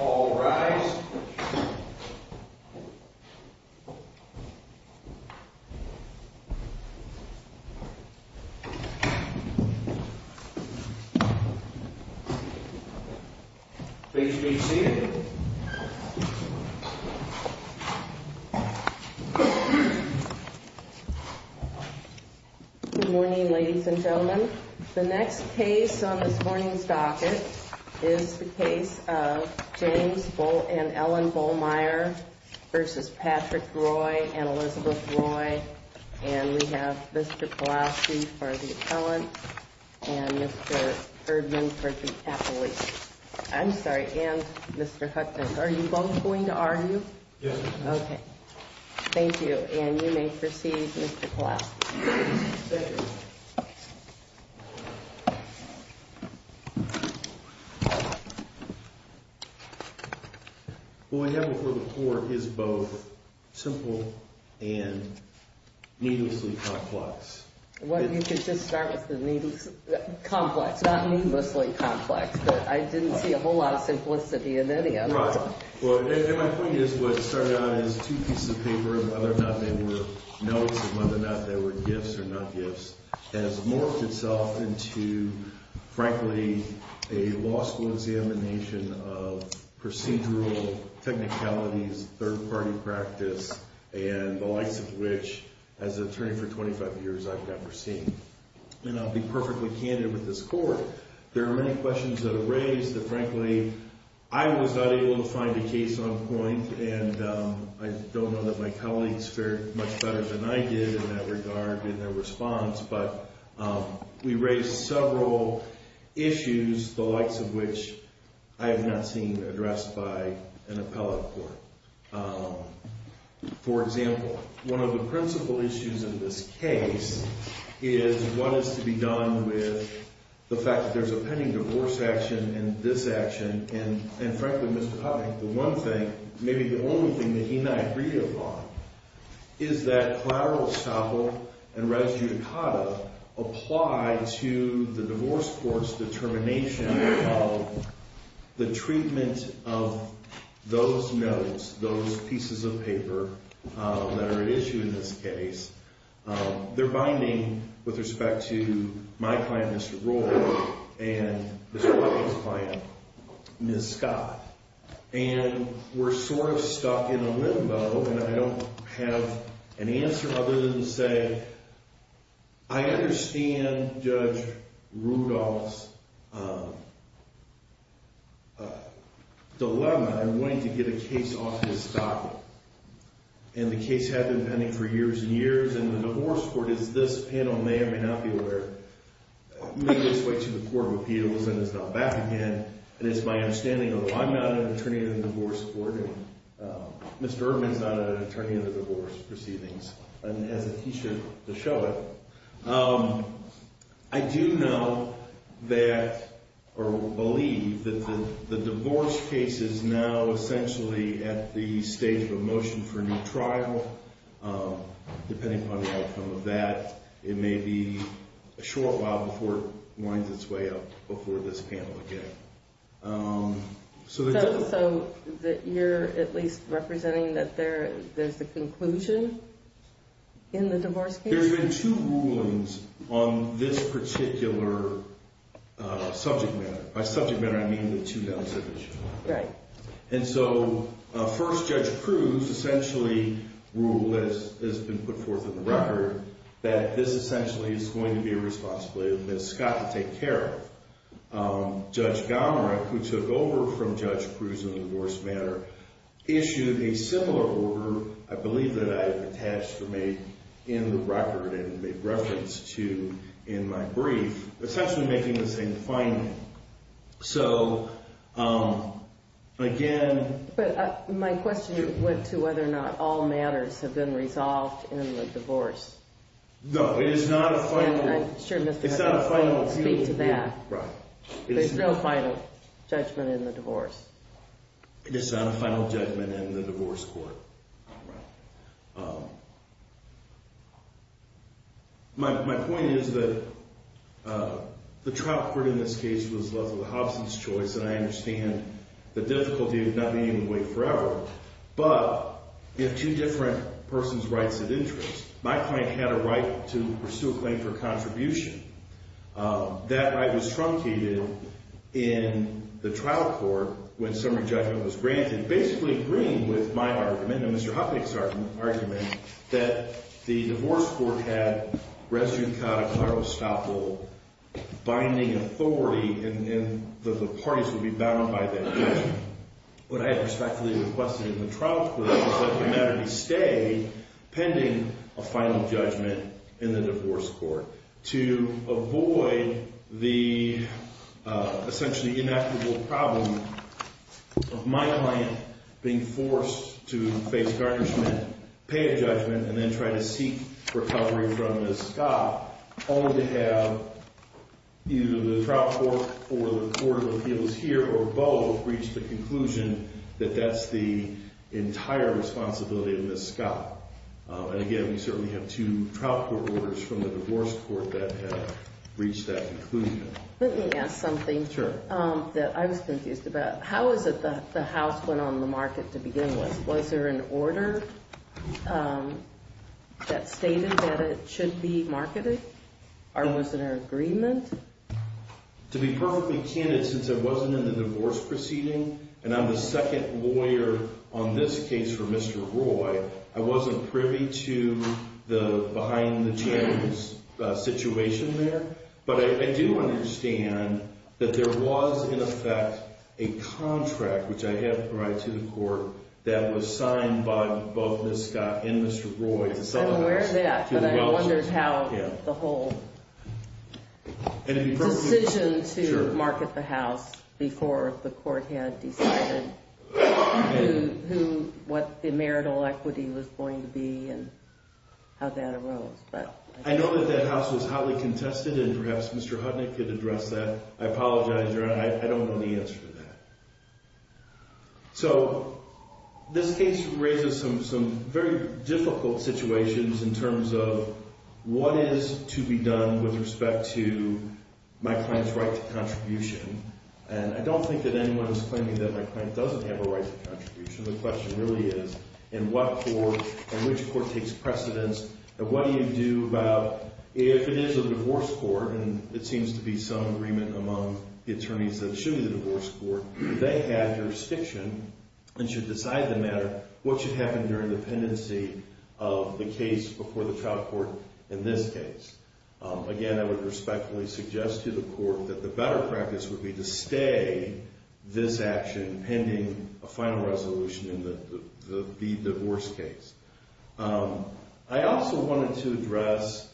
All rise. Please be seated. Good morning, ladies and gentlemen. The next case on this morning's docket is the case of James and Ellen Bollmeier v. Patrick Roy and Elizabeth Roy. And we have Mr. Pulaski for the appellant and Mr. Erdman for the appellate. I'm sorry, and Mr. Hudson. Are you both going to argue? Yes. Okay. Thank you. And you may proceed, Mr. Pulaski. Thank you. Well, what we have before the court is both simple and needlessly complex. Well, you could just start with the needlessly complex, not needlessly complex, but I didn't see a whole lot of simplicity in any of it. Well, my point is what started out as two pieces of paper, whether or not they were notes and whether or not they were gifts or not gifts, has morphed itself into, frankly, a law school examination of procedural technicalities, third-party practice, and the likes of which, as an attorney for 25 years, I've never seen. And I'll be perfectly candid with this court. There are many questions that are raised that, frankly, I was not able to find a case on point, and I don't know that my colleagues fared much better than I did in that regard in their response. But we raised several issues, the likes of which I have not seen addressed by an appellate court. For example, one of the principal issues in this case is what is to be done with the fact that there's a pending divorce action and this action, and, frankly, Mr. Putnick, the one thing, maybe the only thing that he might agree upon is that collateral estoppel and res judicata apply to the divorce court's determination of the treatment of those notes, those pieces of paper that are at issue in this case. They're binding with respect to my client, Mr. Roark, and Ms. Watkins' client, Ms. Scott. And we're sort of stuck in a limbo, and I don't have an answer other than to say I understand Judge Rudolph's dilemma in wanting to get a case off his docket. And the case had been pending for years and years, and the divorce court is this panel may or may not be aware. Maybe it's way to the Court of Appeals, and it's not back again. And it's my understanding, although I'm not an attorney at a divorce court, and Mr. Erdman's not an attorney at a divorce proceedings and has a t-shirt to show it, I do know that or believe that the divorce case is now essentially at the stage of a motion for a new trial. Depending upon the outcome of that, it may be a short while before it winds its way up before this panel again. So you're at least representing that there's a conclusion in the divorce case? There's been two rulings on this particular subject matter. By subject matter, I mean the two bills that were issued. Right. And so first, Judge Cruz essentially ruled, as has been put forth in the record, that this essentially is going to be a responsibility of Ms. Scott to take care of. Judge Gomerick, who took over from Judge Cruz in the divorce matter, issued a similar order, I believe that I have attached for me in the record and made reference to in my brief, essentially making the same finding. So, again... But my question went to whether or not all matters have been resolved in the divorce. No, it is not a final... And I'm sure Mr. Erdman will speak to that. Right. There's no final judgment in the divorce. It is not a final judgment in the divorce court. Right. My point is that the trial court in this case was Leslie Hobson's choice, and I understand the difficulty of not being able to wait forever. But you have two different persons' rights of interest. My client had a right to pursue a claim for contribution. That right was truncated in the trial court when summary judgment was granted. And basically agreeing with my argument and Mr. Hopnick's argument that the divorce court had res judicata claro estoppel, binding authority, and that the parties would be bound by that judgment. What I had respectfully requested in the trial court was that the matter be stayed pending a final judgment in the divorce court. To avoid the essentially inequitable problem of my client being forced to face garnishment, pay a judgment, and then try to seek recovery from Ms. Scott, only to have either the trial court or the court of appeals here or both reach the conclusion that that's the entire responsibility of Ms. Scott. And again, we certainly have two trial court orders from the divorce court that have reached that conclusion. Let me ask something. Sure. That I was confused about. How is it that the House went on the market to begin with? Was there an order that stated that it should be marketed? Or was there an agreement? To be perfectly candid, since I wasn't in the divorce proceeding, and I'm the second lawyer on this case for Mr. Roy, I wasn't privy to the behind-the-chambers situation there. But I do understand that there was, in effect, a contract, which I had to provide to the court, that was signed by both Ms. Scott and Mr. Roy to sell the house. I'm aware of that, but I wondered how the whole decision to market the house before the court had decided what the marital equity was going to be and how that arose. I know that that house was hotly contested, and perhaps Mr. Hudnick could address that. I apologize, Your Honor. I don't know the answer to that. So this case raises some very difficult situations in terms of what is to be done with respect to my client's right to contribution. And I don't think that anyone is claiming that my client doesn't have a right to contribution. The question really is, in which court takes precedence, and what do you do about if it is a divorce court, and it seems to be some agreement among the attorneys that it should be a divorce court, they have jurisdiction and should decide the matter, what should happen during the pendency of the case before the trial court in this case? Again, I would respectfully suggest to the court that the better practice would be to stay this action pending a final resolution in the divorce case. I also wanted to address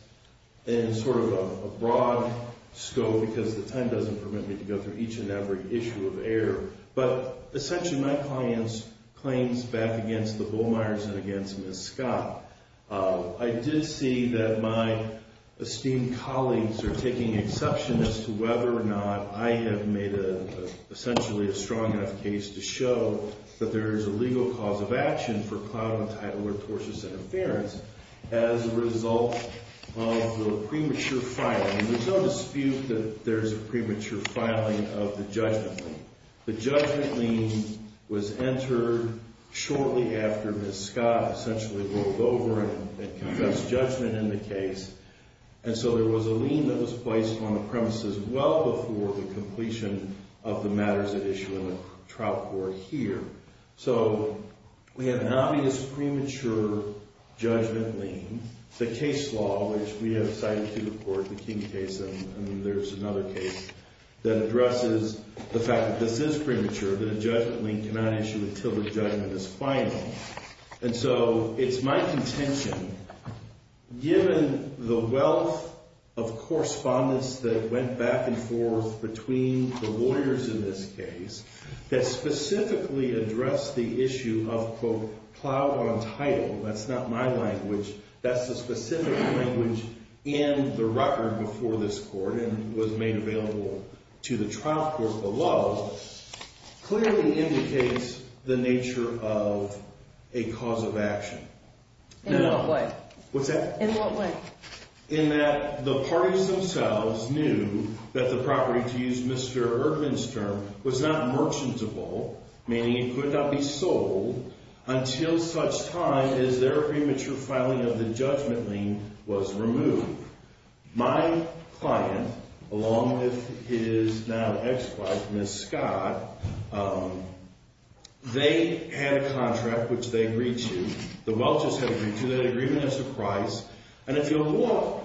in sort of a broad scope, because the time doesn't permit me to go through each and every issue of error, but essentially my client's claims back against the Bullmeyers and against Ms. Scott, I did see that my esteemed colleagues are taking exception as to whether or not I have made essentially a strong enough case to show that there is a legal cause of action for cloud and tidal or tortuous interference as a result of the premature filing. There's no dispute that there's a premature filing of the judgment lien. The judgment lien was entered shortly after Ms. Scott essentially rolled over and confessed judgment in the case, and so there was a lien that was placed on the premises well before the completion of the matters at issue in the trial court here. So we have an obvious premature judgment lien. The case law, which we have cited to the court, the King case, and there's another case that addresses the fact that this is premature, that a judgment lien cannot issue until the judgment is final. And so it's my contention given the wealth of correspondence that went back and forth between the lawyers in this case that specifically addressed the issue of, quote, cloud on tidal, that's not my language, that's the specific language in the record before this court and was made available to the trial court below, clearly indicates the nature of a cause of action. In what way? What's that? In what way? In that the parties themselves knew that the property, to use Mr. Erdman's term, was not merchantable, meaning it could not be sold until such time as their premature filing of the judgment lien was removed. My client, along with his now ex-wife, Ms. Scott, they had a contract which they agreed to. The Welch's had agreed to. They had an agreement as a price. And it's illegal.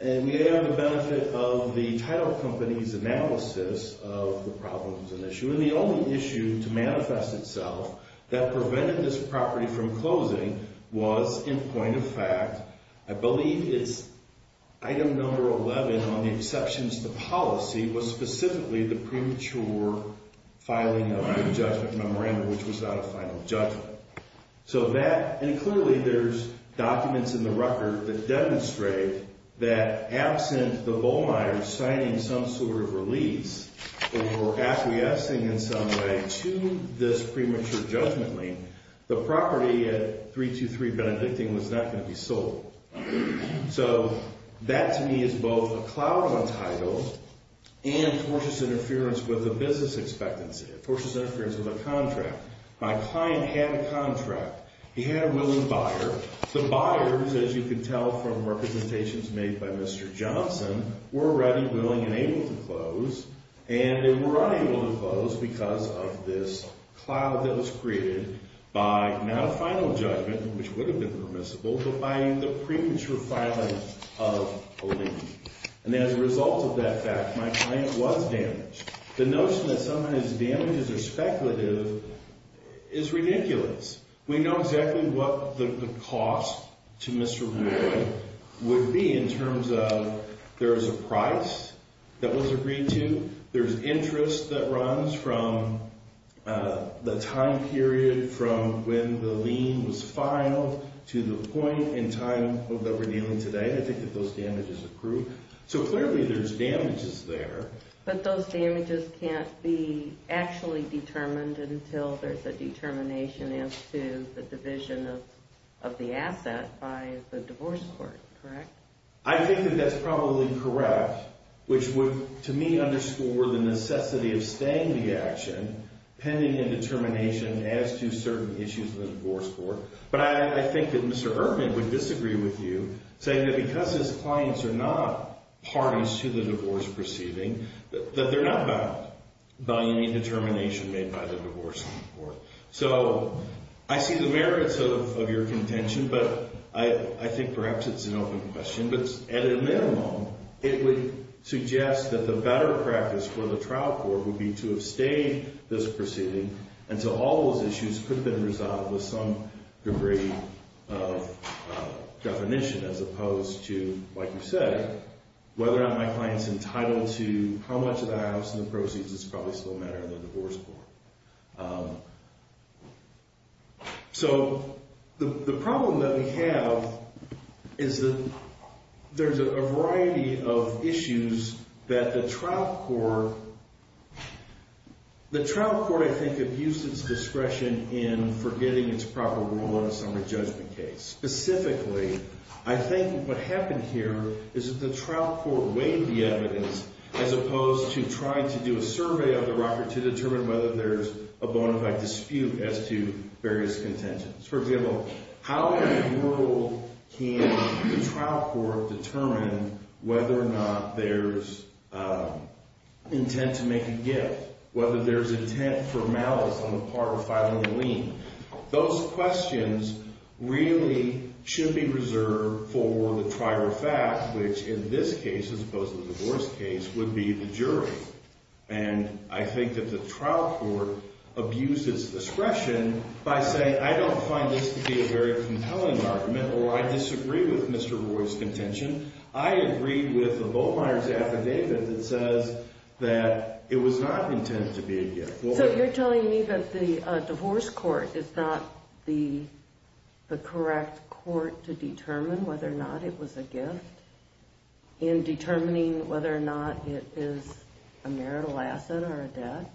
And we have the benefit of the title company's analysis of the problem as an issue. And the only issue to manifest itself that prevented this property from closing was, in point of fact, I believe it's item number 11 on the exceptions to policy was specifically the premature filing of the judgment memorandum, which was not a final judgment. So that, and clearly there's documents in the record that demonstrate that absent the Bowmeyers signing some sort of release or acquiescing in some way to this premature judgment lien, the property at 323 Benedictine was not going to be sold. So that to me is both a cloud on title and tortious interference with a business expectancy, tortious interference with a contract. My client had a contract. He had a willing buyer. The buyers, as you can tell from representations made by Mr. Johnson, were ready, willing, and able to close. And they were unable to close because of this cloud that was created by not a final judgment, which would have been permissible, but by the premature filing of a lien. And as a result of that fact, my client was damaged. The notion that sometimes damages are speculative is ridiculous. We know exactly what the cost to Mr. Bowmeyer would be in terms of there's a price that was agreed to. There's interest that runs from the time period from when the lien was filed to the point in time that we're dealing today. I think that those damages accrue. So clearly there's damages there. But those damages can't be actually determined until there's a determination as to the division of the asset by the divorce court, correct? I think that that's probably correct, which would, to me, underscore the necessity of staying the action pending a determination as to certain issues of the divorce court. But I think that Mr. Erdman would disagree with you, saying that because his clients are not parties to the divorce proceeding, that they're not bound by any determination made by the divorce court. So I see the merits of your contention, but I think perhaps it's an open question. But at a minimum, it would suggest that the better practice for the trial court would be to have stayed this proceeding until all those issues could have been resolved with some degree of definition, as opposed to, like you said, whether or not my client's entitled to how much of the items in the proceeds is probably still a matter of the divorce court. So the problem that we have is that there's a variety of issues that the trial court, the trial court, I think, abused its discretion in forgetting its proper role in a summary judgment case. Specifically, I think what happened here is that the trial court weighed the evidence, as opposed to trying to do a survey of the record to determine whether there's a bona fide dispute as to various contentions. For example, how in the world can the trial court determine whether or not there's intent to make a gift, whether there's intent for malice on the part of filing a lien? Those questions really should be reserved for the trial fact, which in this case, as opposed to the divorce case, would be the jury. And I think that the trial court abused its discretion by saying, I don't find this to be a very compelling argument, or I disagree with Mr. Roy's contention. I agree with the Bowmeyer's affidavit that says that it was not intended to be a gift. So you're telling me that the divorce court is not the correct court to determine whether or not it was a gift in determining whether or not it is a marital asset or a debt?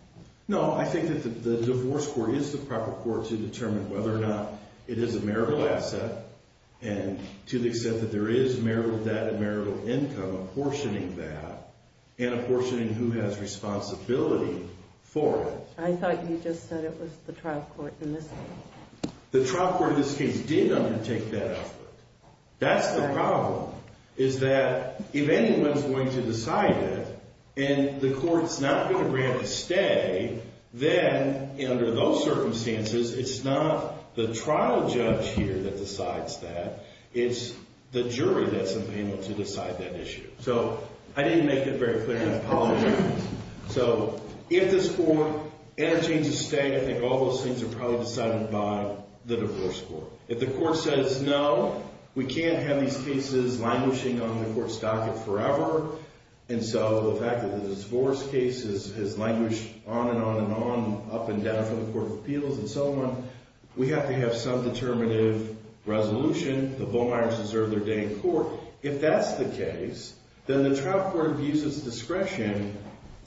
No, I think that the divorce court is the proper court to determine whether or not it is a marital asset, and to the extent that there is marital debt and marital income, apportioning that, and apportioning who has responsibility for it. I thought you just said it was the trial court in this case. The trial court in this case did undertake that effort. That's the problem, is that if anyone's going to decide it, and the court's not going to grant a stay, then under those circumstances, it's not the trial judge here that decides that. It's the jury that's available to decide that issue. So I didn't make it very clear, and I apologize. So if this court entertains a stay, I think all those things are probably decided by the divorce court. If the court says no, we can't have these cases languishing on the court's docket forever, and so the fact that the divorce case has languished on and on and on, up and down from the Court of Appeals and so on, we have to have some determinative resolution. The Bowmeyers deserve their day in court. If that's the case, then the trial court abuses discretion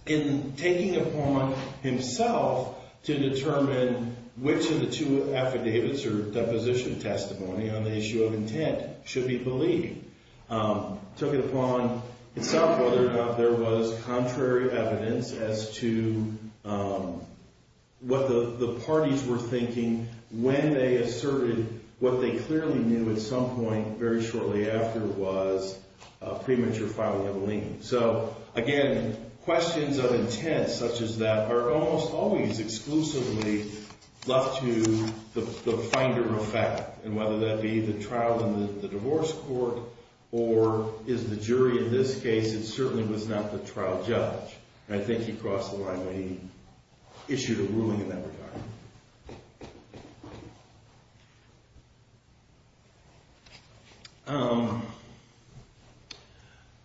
in taking upon himself to determine which of the two affidavits or deposition testimony on the issue of intent should be believed. Took it upon itself whether or not there was contrary evidence as to what the parties were thinking when they asserted what they clearly knew at some point very shortly after was premature filing of a lien. So again, questions of intent such as that are almost always exclusively left to the finder of fact, and whether that be the trial in the divorce court or is the jury in this case, it certainly was not the trial judge. And I think he crossed the line when he issued a ruling in that regard.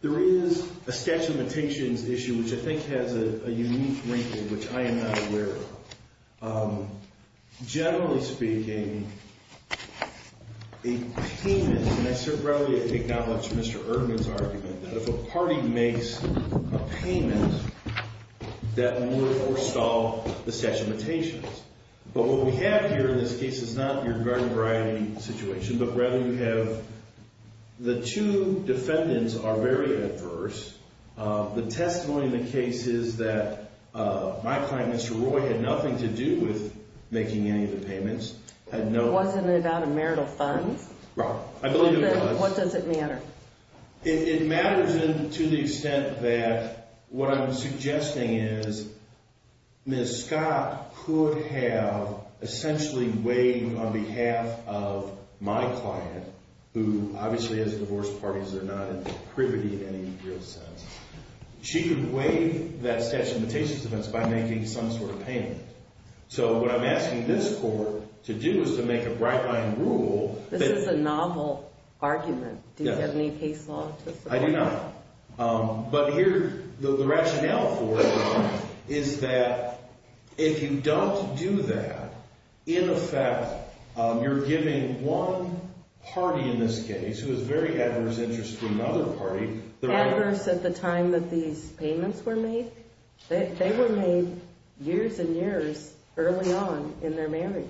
There is a sketch limitations issue which I think has a unique wrinkle which I am not aware of. Generally speaking, a payment, and I certainly acknowledge Mr. Erdman's argument, that if a party makes a payment, that would forestall the sketch limitations. But what we have here in this case is not your garden variety situation, but rather you have the two defendants are very adverse. The testimony in the case is that my client, Mr. Roy, had nothing to do with making any of the payments. It wasn't about a marital funds? Right. I believe it was. What does it matter? It matters to the extent that what I'm suggesting is Ms. Scott could have essentially waived on behalf of my client, who obviously has divorced parties, they're not in the privity in any real sense. She could waive that sketch limitations defense by making some sort of payment. So what I'm asking this court to do is to make a bright line rule. This is a novel argument. Do you have any case law to support? I do not. But here, the rationale for it is that if you don't do that, in effect, you're giving one party in this case, who is very adverse interest to another party. Adverse at the time that these payments were made? They were made years and years early on in their marriage.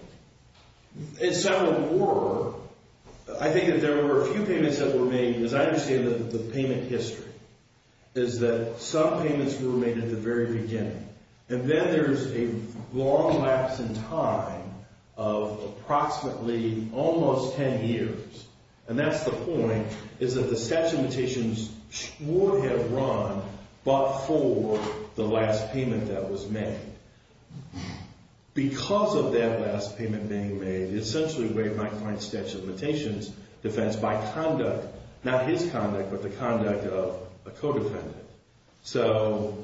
As several were, I think that there were a few payments that were made. As I understand it, the payment history is that some payments were made at the very beginning. And then there's a long lapse in time of approximately almost 10 years. And that's the point, is that the sketch limitations would have run but for the last payment that was made. Because of that last payment being made, it essentially waived my client's sketch limitations defense by conduct. Not his conduct, but the conduct of a co-defendant. So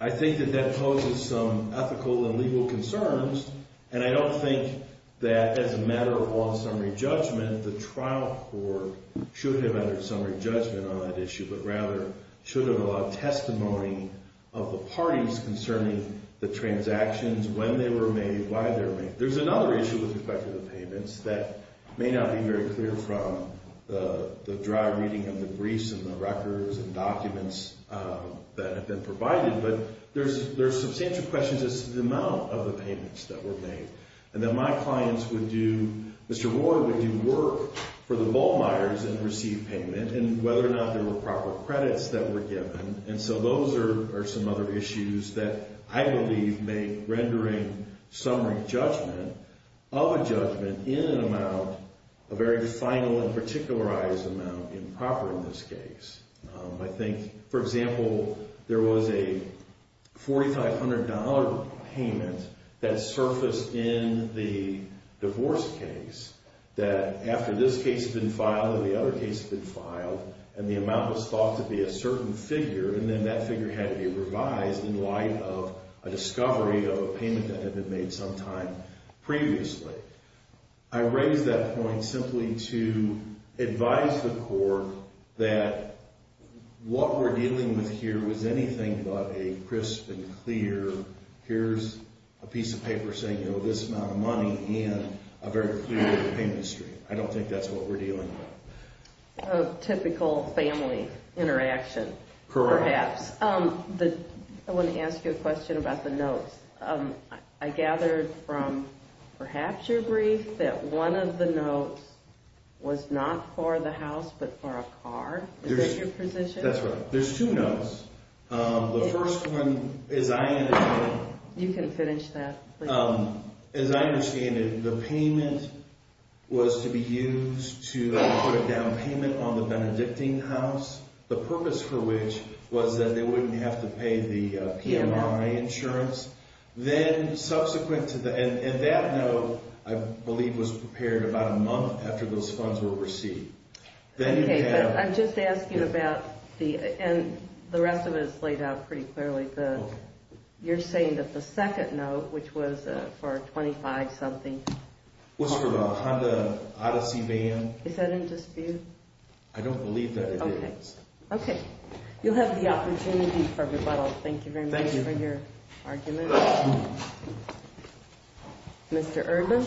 I think that that poses some ethical and legal concerns. And I don't think that as a matter of long summary judgment, the trial court should have entered summary judgment on that issue. But rather, should have allowed testimony of the parties concerning the transactions, when they were made, why they were made. There's another issue with respect to the payments that may not be very clear from the dry reading of the briefs and the records and documents that have been provided. But there's substantial questions as to the amount of the payments that were made. And that my clients would do, Mr. Roy would do work for the Volmeyers and receive payment. And whether or not there were proper credits that were given. And so those are some other issues that I believe make rendering summary judgment of a judgment in an amount, a very final and particularized amount, improper in this case. I think, for example, there was a $4,500 payment that surfaced in the divorce case. That after this case had been filed and the other case had been filed, and the amount was thought to be a certain figure. And then that figure had to be revised in light of a discovery of a payment that had been made sometime previously. I raise that point simply to advise the court that what we're dealing with here was anything but a crisp and clear, here's a piece of paper saying this amount of money and a very clear payment history. I don't think that's what we're dealing with. A typical family interaction. Correct. Perhaps. I want to ask you a question about the notes. I gathered from perhaps your brief that one of the notes was not for the house but for a car. Is that your position? That's right. There's two notes. The first one, as I understand it. You can finish that. As I understand it, the payment was to be used to put a down payment on the Benedictine house. The purpose for which was that they wouldn't have to pay the PMI insurance. Then subsequent to that, and that note I believe was prepared about a month after those funds were received. Okay, but I'm just asking about the, and the rest of it is laid out pretty clearly. You're saying that the second note, which was for a 25 something. Was for a Honda Odyssey van. I don't believe that it is. Okay. You'll have the opportunity for rebuttal. Thank you very much for your argument. Thank you. Mr. Urban.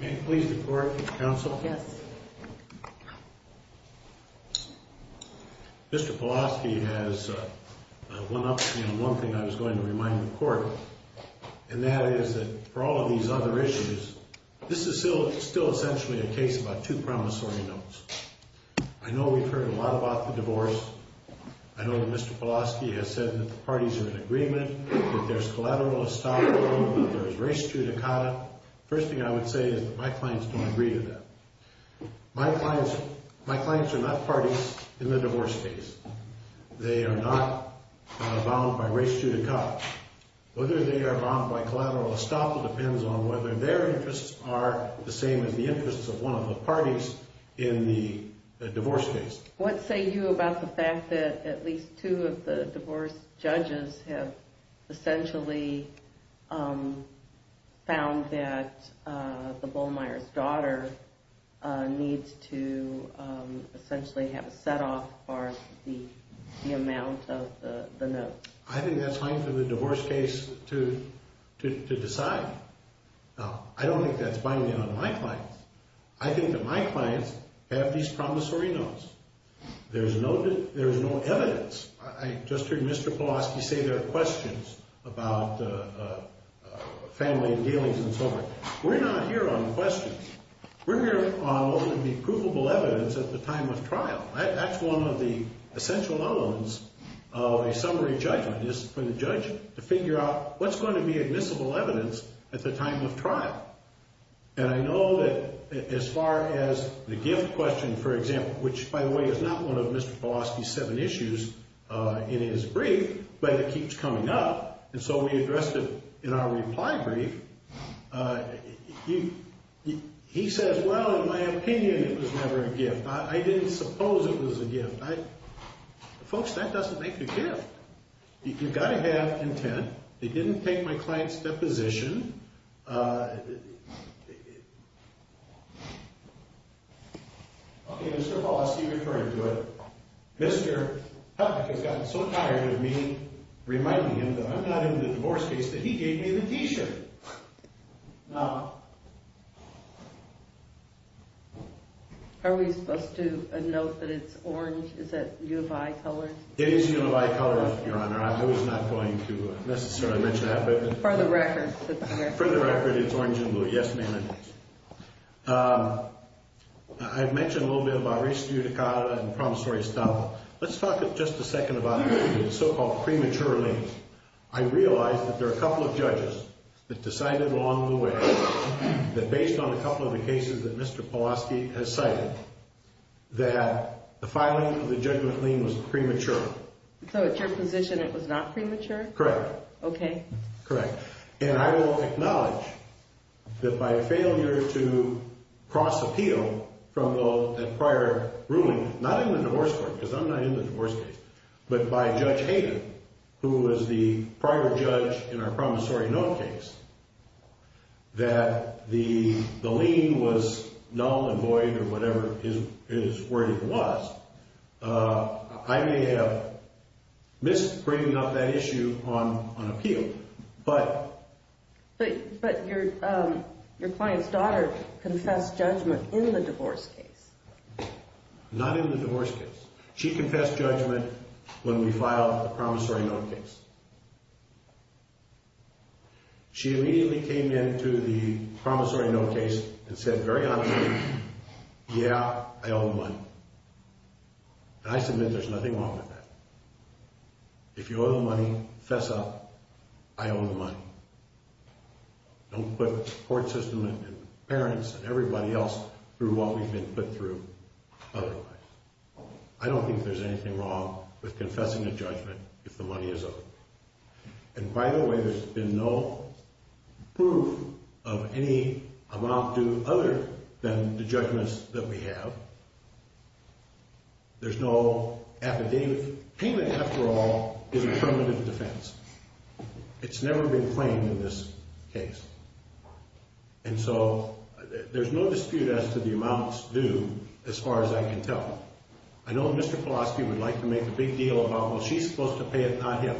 May I please report to counsel? Yes. Mr. Pulaski has one option, one thing I was going to remind the court. And that is that for all of these other issues, this is still essentially a case about two promissory notes. I know we've heard a lot about the divorce. I know that Mr. Pulaski has said that the parties are in agreement. That there's collateral estoppel. There's res judicata. First thing I would say is that my clients don't agree to that. My clients, my clients are not parties in the divorce case. They are not bound by res judicata. Whether they are bound by collateral estoppel depends on whether their interests are the same as the interests of one of the parties in the divorce case. What say you about the fact that at least two of the divorce judges have essentially found that the Bullmeier's daughter needs to essentially have a set off for the amount of the notes? I think that's fine for the divorce case to decide. Now, I don't think that's binding on my clients. I think that my clients have these promissory notes. There's no evidence. I just heard Mr. Pulaski say there are questions about family dealings and so forth. We're not here on questions. We're here on what would be provable evidence at the time of trial. That's one of the essential moments of a summary judgment is for the judge to figure out what's going to be admissible evidence at the time of trial. And I know that as far as the gift question, for example, which, by the way, is not one of Mr. Pulaski's seven issues in his brief, but it keeps coming up, and so we addressed it in our reply brief. He says, well, in my opinion, it was never a gift. I didn't suppose it was a gift. Folks, that doesn't make the gift. You've got to have intent. They didn't take my client's deposition. Okay, Mr. Pulaski referred to it. Mr. Peck has gotten so tired of me reminding him that I'm not in the divorce case that he gave me the T-shirt. Are we supposed to note that it's orange? Is that U of I color? It is U of I color, Your Honor. I was not going to necessarily mention that. For the record. For the record, it's orange and blue. Yes, ma'am, it is. I've mentioned a little bit about res judicata and promissory staff. Let's talk just a second about the so-called premature release. I realize that there are a couple of judges that decided along the way that based on a couple of the cases that Mr. Pulaski has cited, that the filing of the judgment lien was premature. So at your position, it was not premature? Correct. Okay. Correct. And I will acknowledge that by a failure to cross appeal from the prior ruling, not in the divorce court because I'm not in the divorce case, but by Judge Hayden, who was the prior judge in our promissory note case, that the lien was null and void or whatever his wording was. I may have missed bringing up that issue on appeal, but... But your client's daughter confessed judgment in the divorce case. Not in the divorce case. She confessed judgment when we filed the promissory note case. She immediately came into the promissory note case and said very honestly, yeah, I owe the money. And I submit there's nothing wrong with that. If you owe the money, fess up. I owe the money. Don't put the court system and parents and everybody else through what we've been put through otherwise. I don't think there's anything wrong with confessing a judgment if the money is owed. And by the way, there's been no proof of any amount due other than the judgments that we have. There's no affidavit. Payment, after all, is a permanent defense. It's never been claimed in this case. And so there's no dispute as to the amounts due as far as I can tell. I know Mr. Polosky would like to make a big deal about, well, she's supposed to pay it, not him.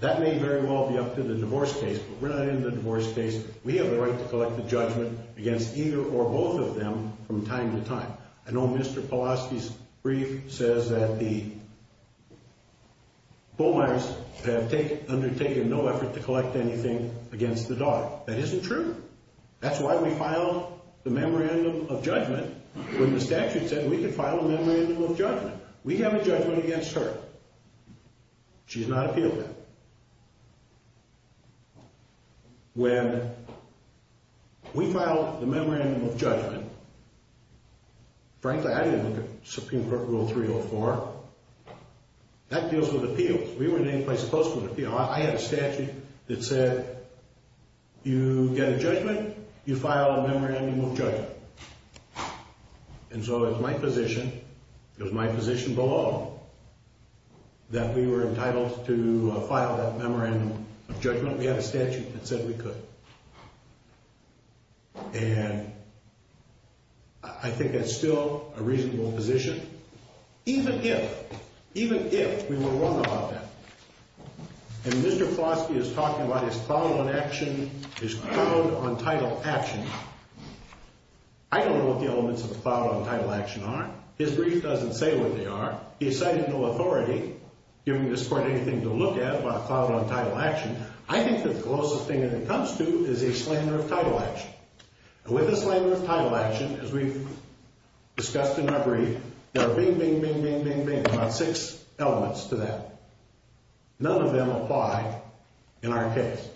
That may very well be up to the divorce case, but we're not in the divorce case. We have the right to collect the judgment against either or both of them from time to time. I know Mr. Polosky's brief says that the Bowmeyers have undertaken no effort to collect anything against the daughter. That isn't true. That's why we filed the memorandum of judgment when the statute said we could file a memorandum of judgment. We have a judgment against her. She's not appealed. When we filed the memorandum of judgment, frankly, I didn't look at Supreme Court Rule 304. That deals with appeals. We weren't in any place supposed to appeal. I had a statute that said you get a judgment, you file a memorandum of judgment. And so it was my position, it was my position below, that we were entitled to file that memorandum of judgment. We had a statute that said we could. And I think that's still a reasonable position, even if, even if we were wrong about that. And Mr. Polosky is talking about his cloud-on-action, his cloud-on-title action. I don't know what the elements of a cloud-on-title action are. His brief doesn't say what they are. He's citing no authority, giving this Court anything to look at about a cloud-on-title action. I think that the closest thing that it comes to is a slander of title action. And with a slander of title action, as we've discussed in our brief, there are bing, bing, bing, bing, bing, bing, about six elements to that. None of them apply in our case.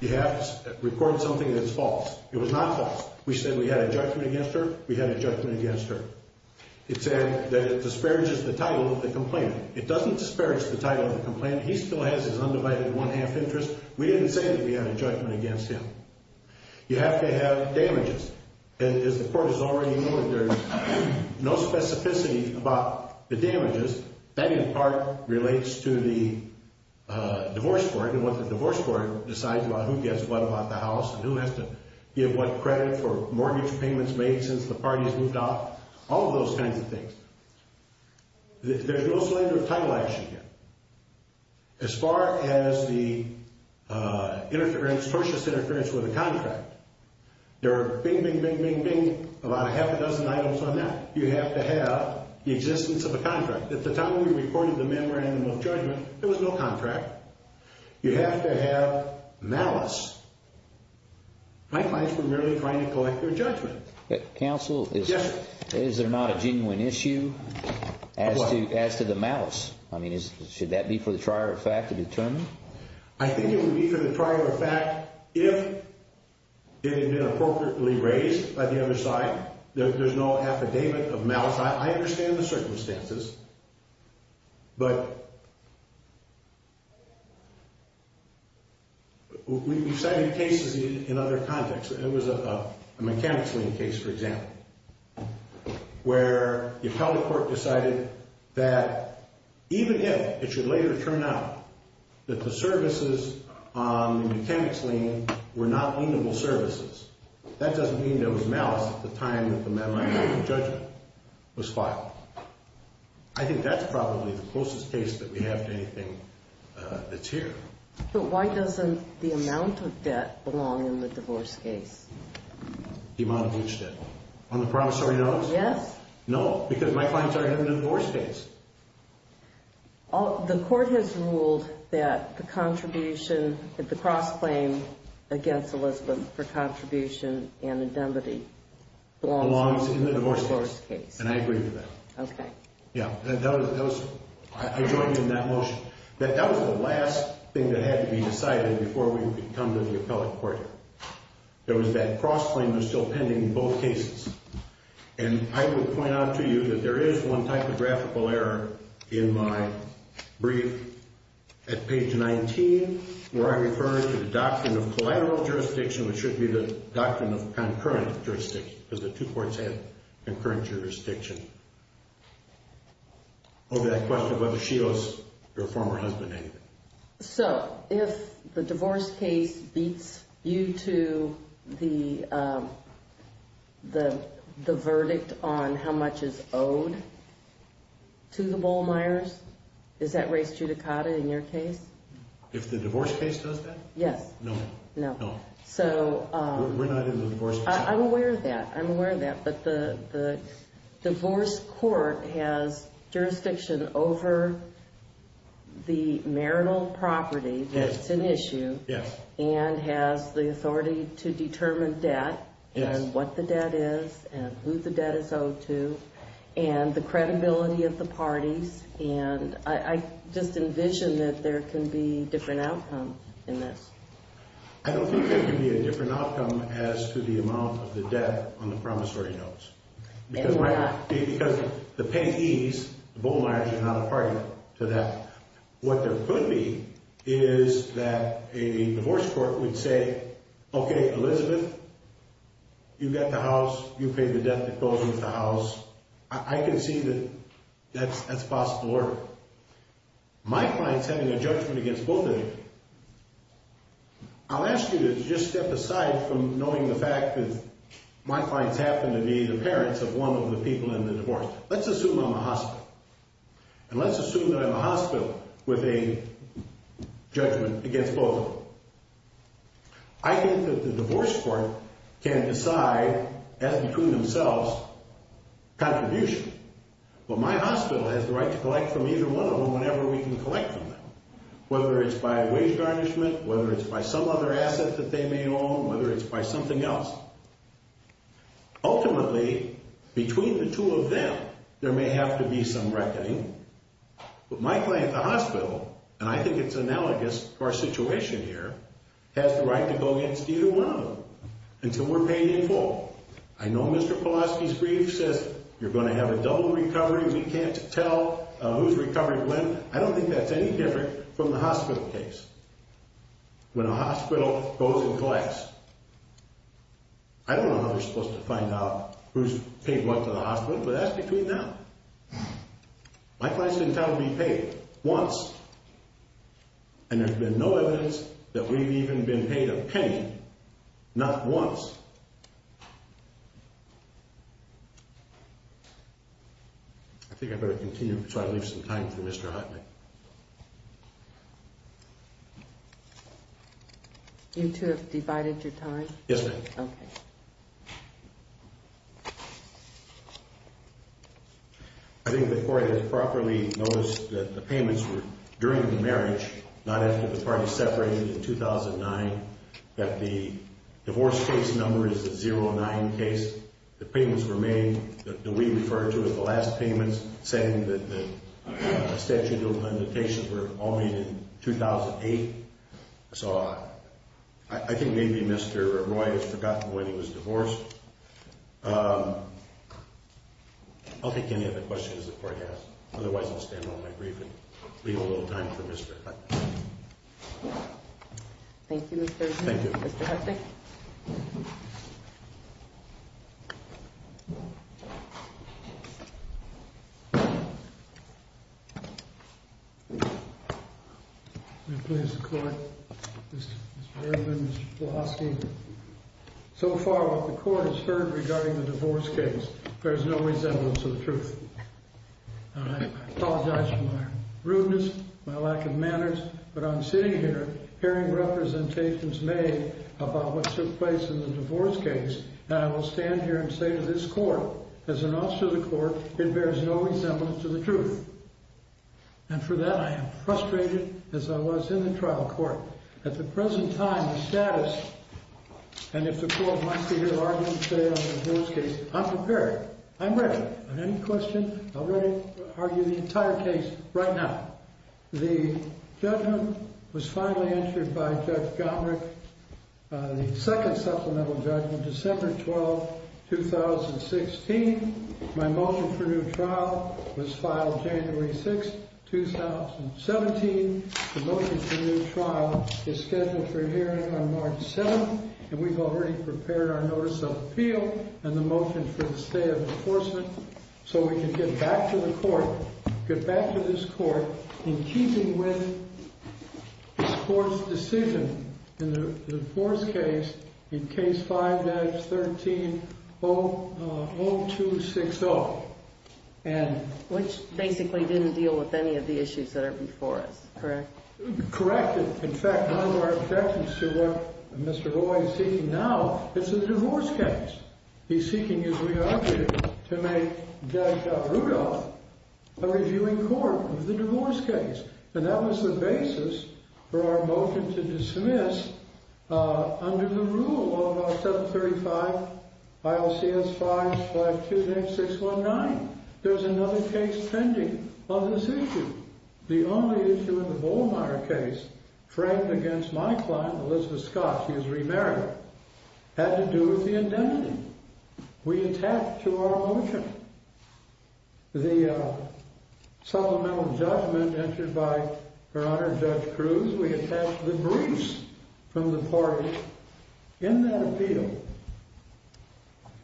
You have to report something that's false. It was not false. We said we had a judgment against her. We had a judgment against her. It said that it disparages the title of the complainant. It doesn't disparage the title of the complainant. He still has his undivided one-half interest. We didn't say that we had a judgment against him. You have to have damages. And as the Court has already noted, there's no specificity about the damages. That, in part, relates to the divorce court and what the divorce court decides about who gets what about the house and who has to give what credit for mortgage payments made since the parties moved out, all of those kinds of things. There's no slander of title action yet. As far as the purchase interference with the contract, there are bing, bing, bing, bing, bing, about a half a dozen items on that. You have to have the existence of a contract. At the time we reported the memorandum of judgment, there was no contract. You have to have malice. My clients were merely trying to collect their judgment. Counsel, is there not a genuine issue as to the malice? I mean, should that be for the trier of fact to determine? I think it would be for the trier of fact if it had been appropriately raised by the other side. There's no affidavit of malice. I understand the circumstances, but we've cited cases in other contexts. It was a mechanics lien case, for example, where the appellate court decided that even if it should later turn out that the services on the mechanics lien were not lienable services, that doesn't mean there was malice at the time that the memorandum of judgment was filed. I think that's probably the closest case that we have to anything that's here. But why doesn't the amount of debt belong in the divorce case? The amount of which debt? On the promissory notice? Yes. No, because my clients are in a divorce case. The court has ruled that the contribution at the cross-claim against Elizabeth for contribution and indemnity belongs in the divorce case. And I agree with that. Okay. Yeah. I joined you in that motion. That was the last thing that had to be decided before we could come to the appellate court. There was that cross-claim that was still pending in both cases. And I would point out to you that there is one typographical error in my brief at page 19, where I refer to the doctrine of collateral jurisdiction, which should be the doctrine of concurrent jurisdiction, because the two courts had concurrent jurisdiction over that question of whether she owes her former husband anything. So if the divorce case beats you to the verdict on how much is owed to the Bohlmeyers, is that res judicata in your case? If the divorce case does that? Yes. No. No. No. We're not in the divorce case. I'm aware of that. I'm aware of that. But the divorce court has jurisdiction over the marital property that's an issue. Yes. And has the authority to determine debt and what the debt is and who the debt is owed to and the credibility of the parties. And I just envision that there can be different outcomes in this. I don't think there can be a different outcome as to the amount of the debt on the promissory notes. Because the payees, the Bohlmeyers, are not a party to that. What there could be is that a divorce court would say, okay, Elizabeth, you got the house, you paid the debt that goes with the house. I can see that that's possible order. My client's having a judgment against Bohlmeyer. I'll ask you to just step aside from knowing the fact that my client's happened to be the parents of one of the people in the divorce. Let's assume I'm a hospital. And let's assume that I'm a hospital with a judgment against Bohlmeyer. I think that the divorce court can decide as between themselves contribution. But my hospital has the right to collect from either one of them whenever we can collect from them. Whether it's by wage garnishment, whether it's by some other asset that they may own, whether it's by something else. Ultimately, between the two of them, there may have to be some reckoning. But my client, the hospital, and I think it's analogous to our situation here, has the right to go against either one of them until we're paying in full. I know Mr. Polosky's brief says you're going to have a double recovery. We can't tell who's recovered when. I don't think that's any different from the hospital case. When a hospital goes and collects, I don't know how they're supposed to find out who's paid what to the hospital, but that's between them. My client's been told to be paid once. And there's been no evidence that we've even been paid a penny. Not once. I think I better continue so I leave some time for Mr. Hotley. You two have divided your time? Yes, ma'am. Okay. I think the court has properly noticed that the payments were during the marriage, not after the parties separated in 2009, that the divorce case number is a 0-9 case. The payments were made that we refer to as the last payments, saying that the statute of limitations were all made in 2008. So I think maybe Mr. Roy has forgotten when he was divorced. I'll take any other questions the court has. Otherwise, I'll stand on my brief and leave a little time for Mr. Hotley. Thank you, Mr. Horton. Thank you. Mr. Hotley? May it please the court, Mr. Fairman, Mr. Pulaski. So far what the court has heard regarding the divorce case bears no resemblance to the truth. I apologize for my rudeness, my lack of manners, but I'm sitting here hearing representations made about what took place in the divorce case. And I will stand here and say to this court, as an officer of the court, it bears no resemblance to the truth. And for that, I am frustrated as I was in the trial court. At the present time, the status, and if the court wants to hear arguments made on the divorce case, I'm prepared. I'm ready on any question. I'm ready to argue the entire case right now. The judgment was finally entered by Judge Gombrich, the second supplemental judgment, December 12, 2016. My motion for new trial was filed January 6, 2017. The motion for new trial is scheduled for hearing on March 7, and we've already prepared our notice of appeal and the motion for the stay of enforcement. So we can get back to the court, get back to this court, in keeping with the court's decision in the divorce case in Case 5-13-0260. Which basically didn't deal with any of the issues that are before us, correct? Correct. In fact, none of our objections to what Mr. Roy is seeking now is the divorce case. He's seeking his re-argument to make Judge Rudolph a reviewing court of the divorce case. And that was the basis for our motion to dismiss under the rule of our 735 ILCS 5528619. There's another case pending on this issue. The only issue in the Volmeier case, Frank against my client, Elizabeth Scott, she is remarried, had to do with the indemnity. We attacked to our motion. The supplemental judgment entered by Her Honor Judge Cruz, we attached the briefs from the parties in that appeal.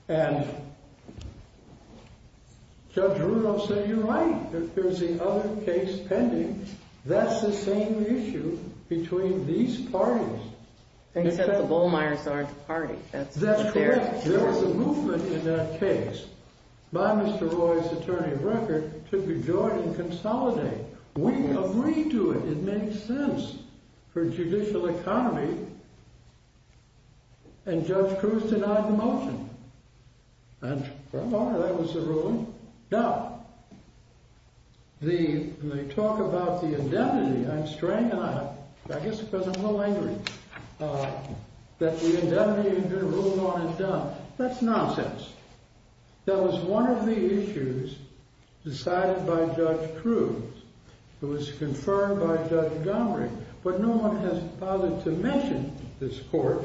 And Judge Rudolph said, you're right, there's the other case pending. That's the same issue between these parties. Except the Volmeiers aren't the party. That's correct. There was a movement in that case. By Mr. Roy's attorney of record, to rejoin and consolidate. We agreed to it. It makes sense for judicial economy. And Judge Cruz denied the motion. And that was the ruling. Now, when they talk about the indemnity, I'm strangled. I guess because I'm a little angry that the indemnity has been ruled on and done. That's nonsense. That was one of the issues decided by Judge Cruz. It was confirmed by Judge Gomery. But no one has bothered to mention this court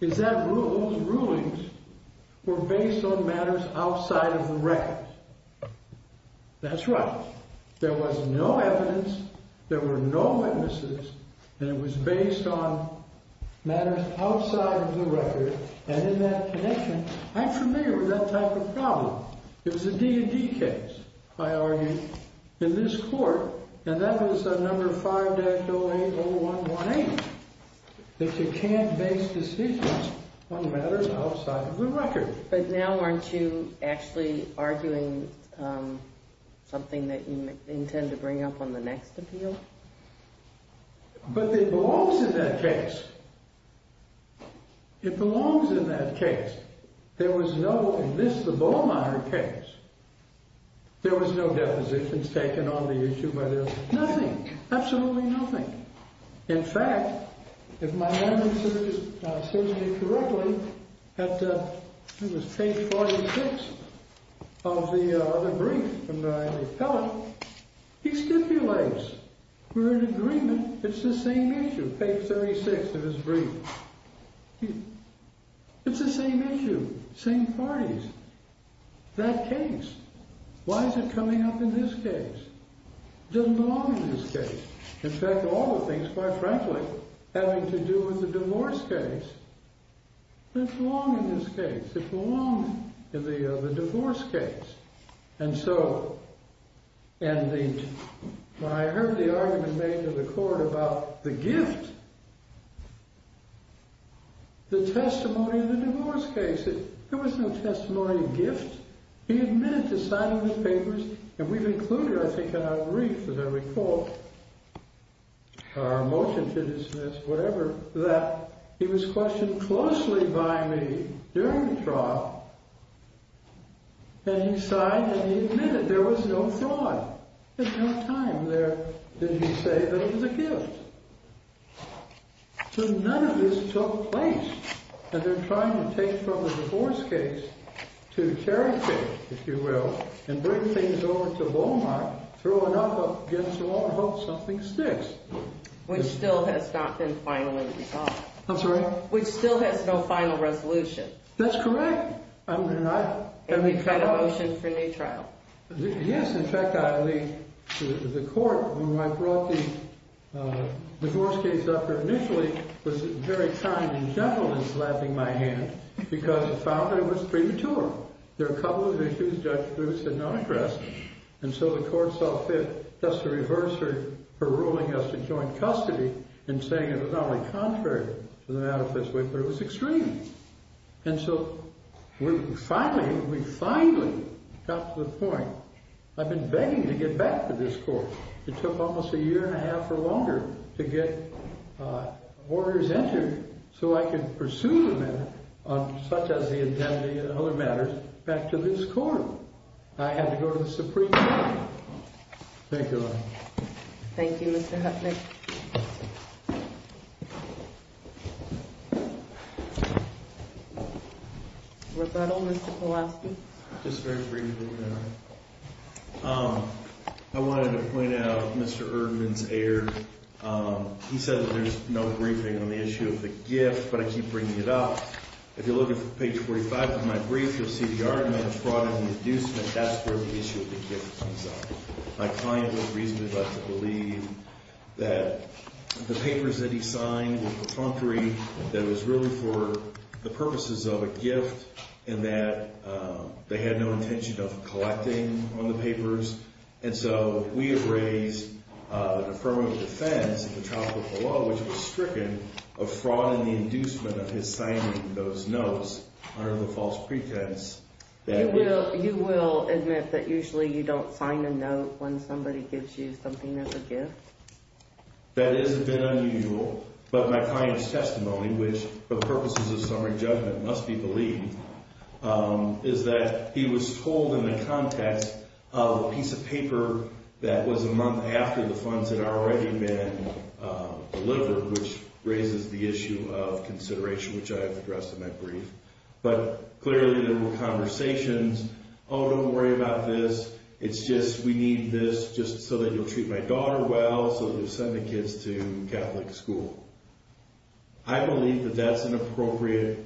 is that those rulings were based on matters outside of the record. That's right. There was no evidence. There were no witnesses. And it was based on matters outside of the record. And in that connection, I'm familiar with that type of problem. It was a D&D case, I argue, in this court. And that was a number 5-080118. That you can't base decisions on matters outside of the record. But now aren't you actually arguing something that you intend to bring up on the next appeal? But it belongs in that case. It belongs in that case. There was no, in this, the Bowmeyer case, there was no depositions taken on the issue. Nothing. Absolutely nothing. In fact, if my memory serves me correctly, it was page 46 of the brief from the appellate. He stipulates, we're in agreement, it's the same issue. Page 36 of his brief. It's the same issue. Same parties. That case. Why is it coming up in this case? It doesn't belong in this case. In fact, all the things, quite frankly, having to do with the divorce case. It doesn't belong in this case. It belongs in the divorce case. And so, when I heard the argument made to the court about the gift, the testimony of the divorce case, there was no testimony of gift. He admitted to signing the papers, and we've included, I think, in our brief, as I recall, our motion to dismiss, whatever, that he was questioned closely by me during the trial. And he signed, and he admitted there was no fraud. At no time did he say that it was a gift. So none of this took place. And they're trying to take from the divorce case to charity, if you will, and bring things over to Walmart, throw it up against the wall, and hope something sticks. Which still has not been finally resolved. I'm sorry? Which still has no final resolution. That's correct. And we've got a motion for a new trial. Yes. In fact, the court, when I brought the divorce case up here initially, was very kind and gentle in slapping my hand, because it found that it was premature. There were a couple of issues Judge Bruce had not addressed, and so the court saw fit just to reverse her ruling as to joint custody and saying it was only contrary to the manifesto, but it was extreme. And so we finally got to the point. I've been begging to get back to this court. It took almost a year and a half or longer to get orders entered so I could pursue the matter, such as the indemnity and other matters, back to this court. I had to go to the Supreme Court. Thank you. Thank you, Mr. Huffman. Roberto, Mr. Pulaski? Just very briefly, Mary. I wanted to point out Mr. Erdman's error. He said that there's no briefing on the issue of the gift, but I keep bringing it up. If you look at page 45 of my brief, you'll see the argument of fraud and inducement. That's where the issue of the gift comes up. My client was reasonably about to believe that the papers that he signed were contrary, that it was really for the purposes of a gift and that they had no intention of collecting on the papers. And so we have raised the affirmative defense at the top of the law, which was stricken of fraud and the inducement of his signing those notes under the false pretense that it was. So you will admit that usually you don't sign a note when somebody gives you something as a gift? That is a bit unusual. But my client's testimony, which for purposes of summary judgment must be believed, is that he was told in the context of a piece of paper that was a month after the funds had already been delivered, which raises the issue of consideration, which I have addressed in my brief. But clearly there were conversations, oh, don't worry about this. It's just we need this just so that you'll treat my daughter well, so you'll send the kids to Catholic school. I believe that that's an appropriate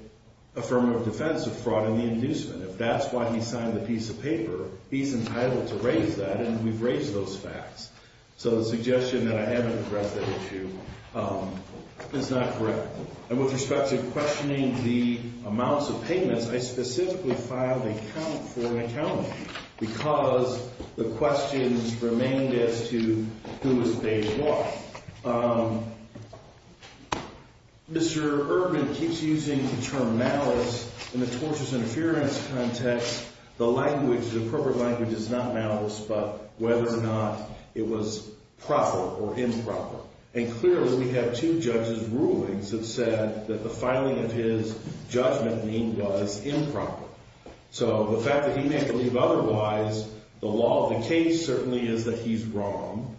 affirmative defense of fraud and the inducement. If that's why he signed the piece of paper, he's entitled to raise that, and we've raised those facts. So the suggestion that I haven't addressed that issue is not correct. And with respect to questioning the amounts of payments, I specifically filed a count for an accounting because the questions remained as to who was paid what. Mr. Erdman keeps using the term malice in the tortious interference context. The language, the appropriate language is not malice, but whether or not it was proper or improper. And clearly we have two judges' rulings that said that the filing of his judgment lien was improper. So the fact that he may believe otherwise, the law of the case certainly is that he's wrong.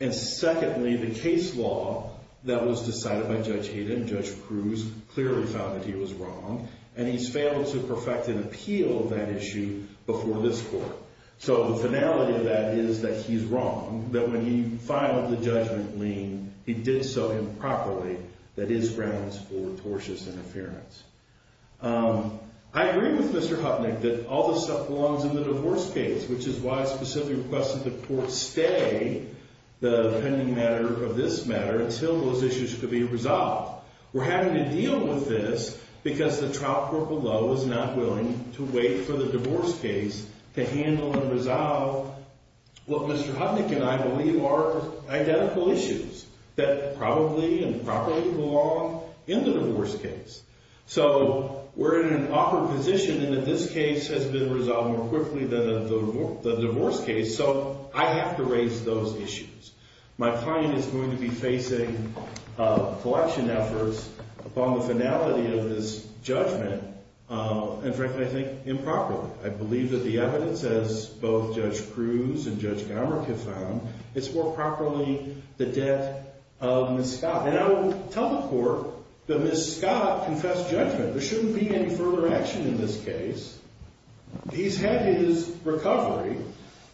And secondly, the case law that was decided by Judge Hayden and Judge Cruz clearly found that he was wrong, and he's failed to perfect an appeal of that issue before this court. So the finality of that is that he's wrong, that when he filed the judgment lien, he did so improperly. That is grounds for tortious interference. I agree with Mr. Hupnick that all this stuff belongs in the divorce case, which is why I specifically requested the court stay the pending matter of this matter until those issues could be resolved. We're having to deal with this because the trial court below is not willing to wait for the divorce case to handle and resolve what Mr. Hupnick and I believe are identical issues that probably and properly belong in the divorce case. So we're in an awkward position in that this case has been resolved more quickly than the divorce case, so I have to raise those issues. My client is going to be facing collection efforts upon the finality of this judgment, and frankly, I think improperly. I believe that the evidence, as both Judge Cruz and Judge Garmick have found, it's more properly the death of Ms. Scott. And I would tell the court that Ms. Scott confessed judgment. There shouldn't be any further action in this case. He's had his recovery.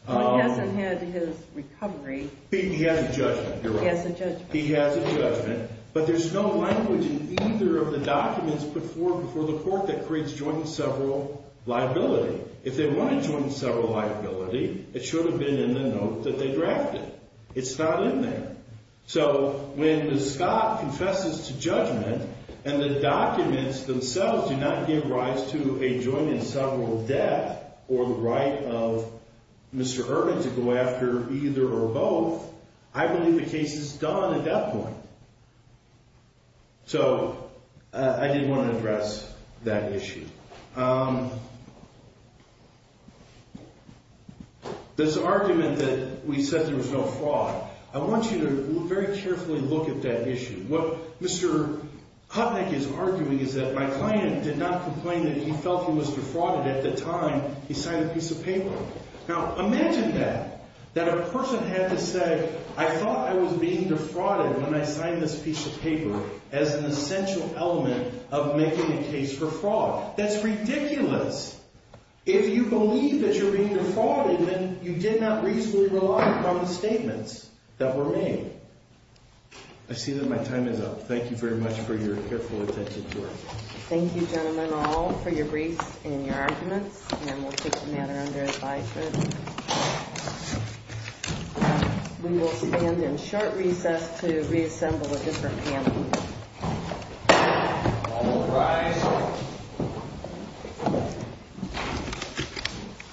He hasn't had his recovery. He has a judgment, you're right. He has a judgment. He has a judgment. But there's no language in either of the documents put forward before the court that creates joint and several liability. If they wanted joint and several liability, it should have been in the note that they drafted. It's not in there. So when Ms. Scott confesses to judgment and the documents themselves do not give rise to a joint and several death or the right of Mr. Ervin to go after either or both, I believe the case is done at that point. So I did want to address that issue. This argument that we said there was no fraud, I want you to very carefully look at that issue. What Mr. Kutnick is arguing is that my client did not complain that he felt he was defrauded. At the time, he signed a piece of paper. Now, imagine that, that a person had to say, I thought I was being defrauded when I signed this piece of paper as an essential element of making a case for fraud. That's ridiculous. If you believe that you're being defrauded, then you did not reasonably rely upon the statements that were made. I see that my time is up. Thank you very much for your careful attention to our case. Thank you, gentlemen, all for your briefs and your arguments. And we'll keep the matter under advisement. We will stand in short recess to reassemble a different panel. All rise.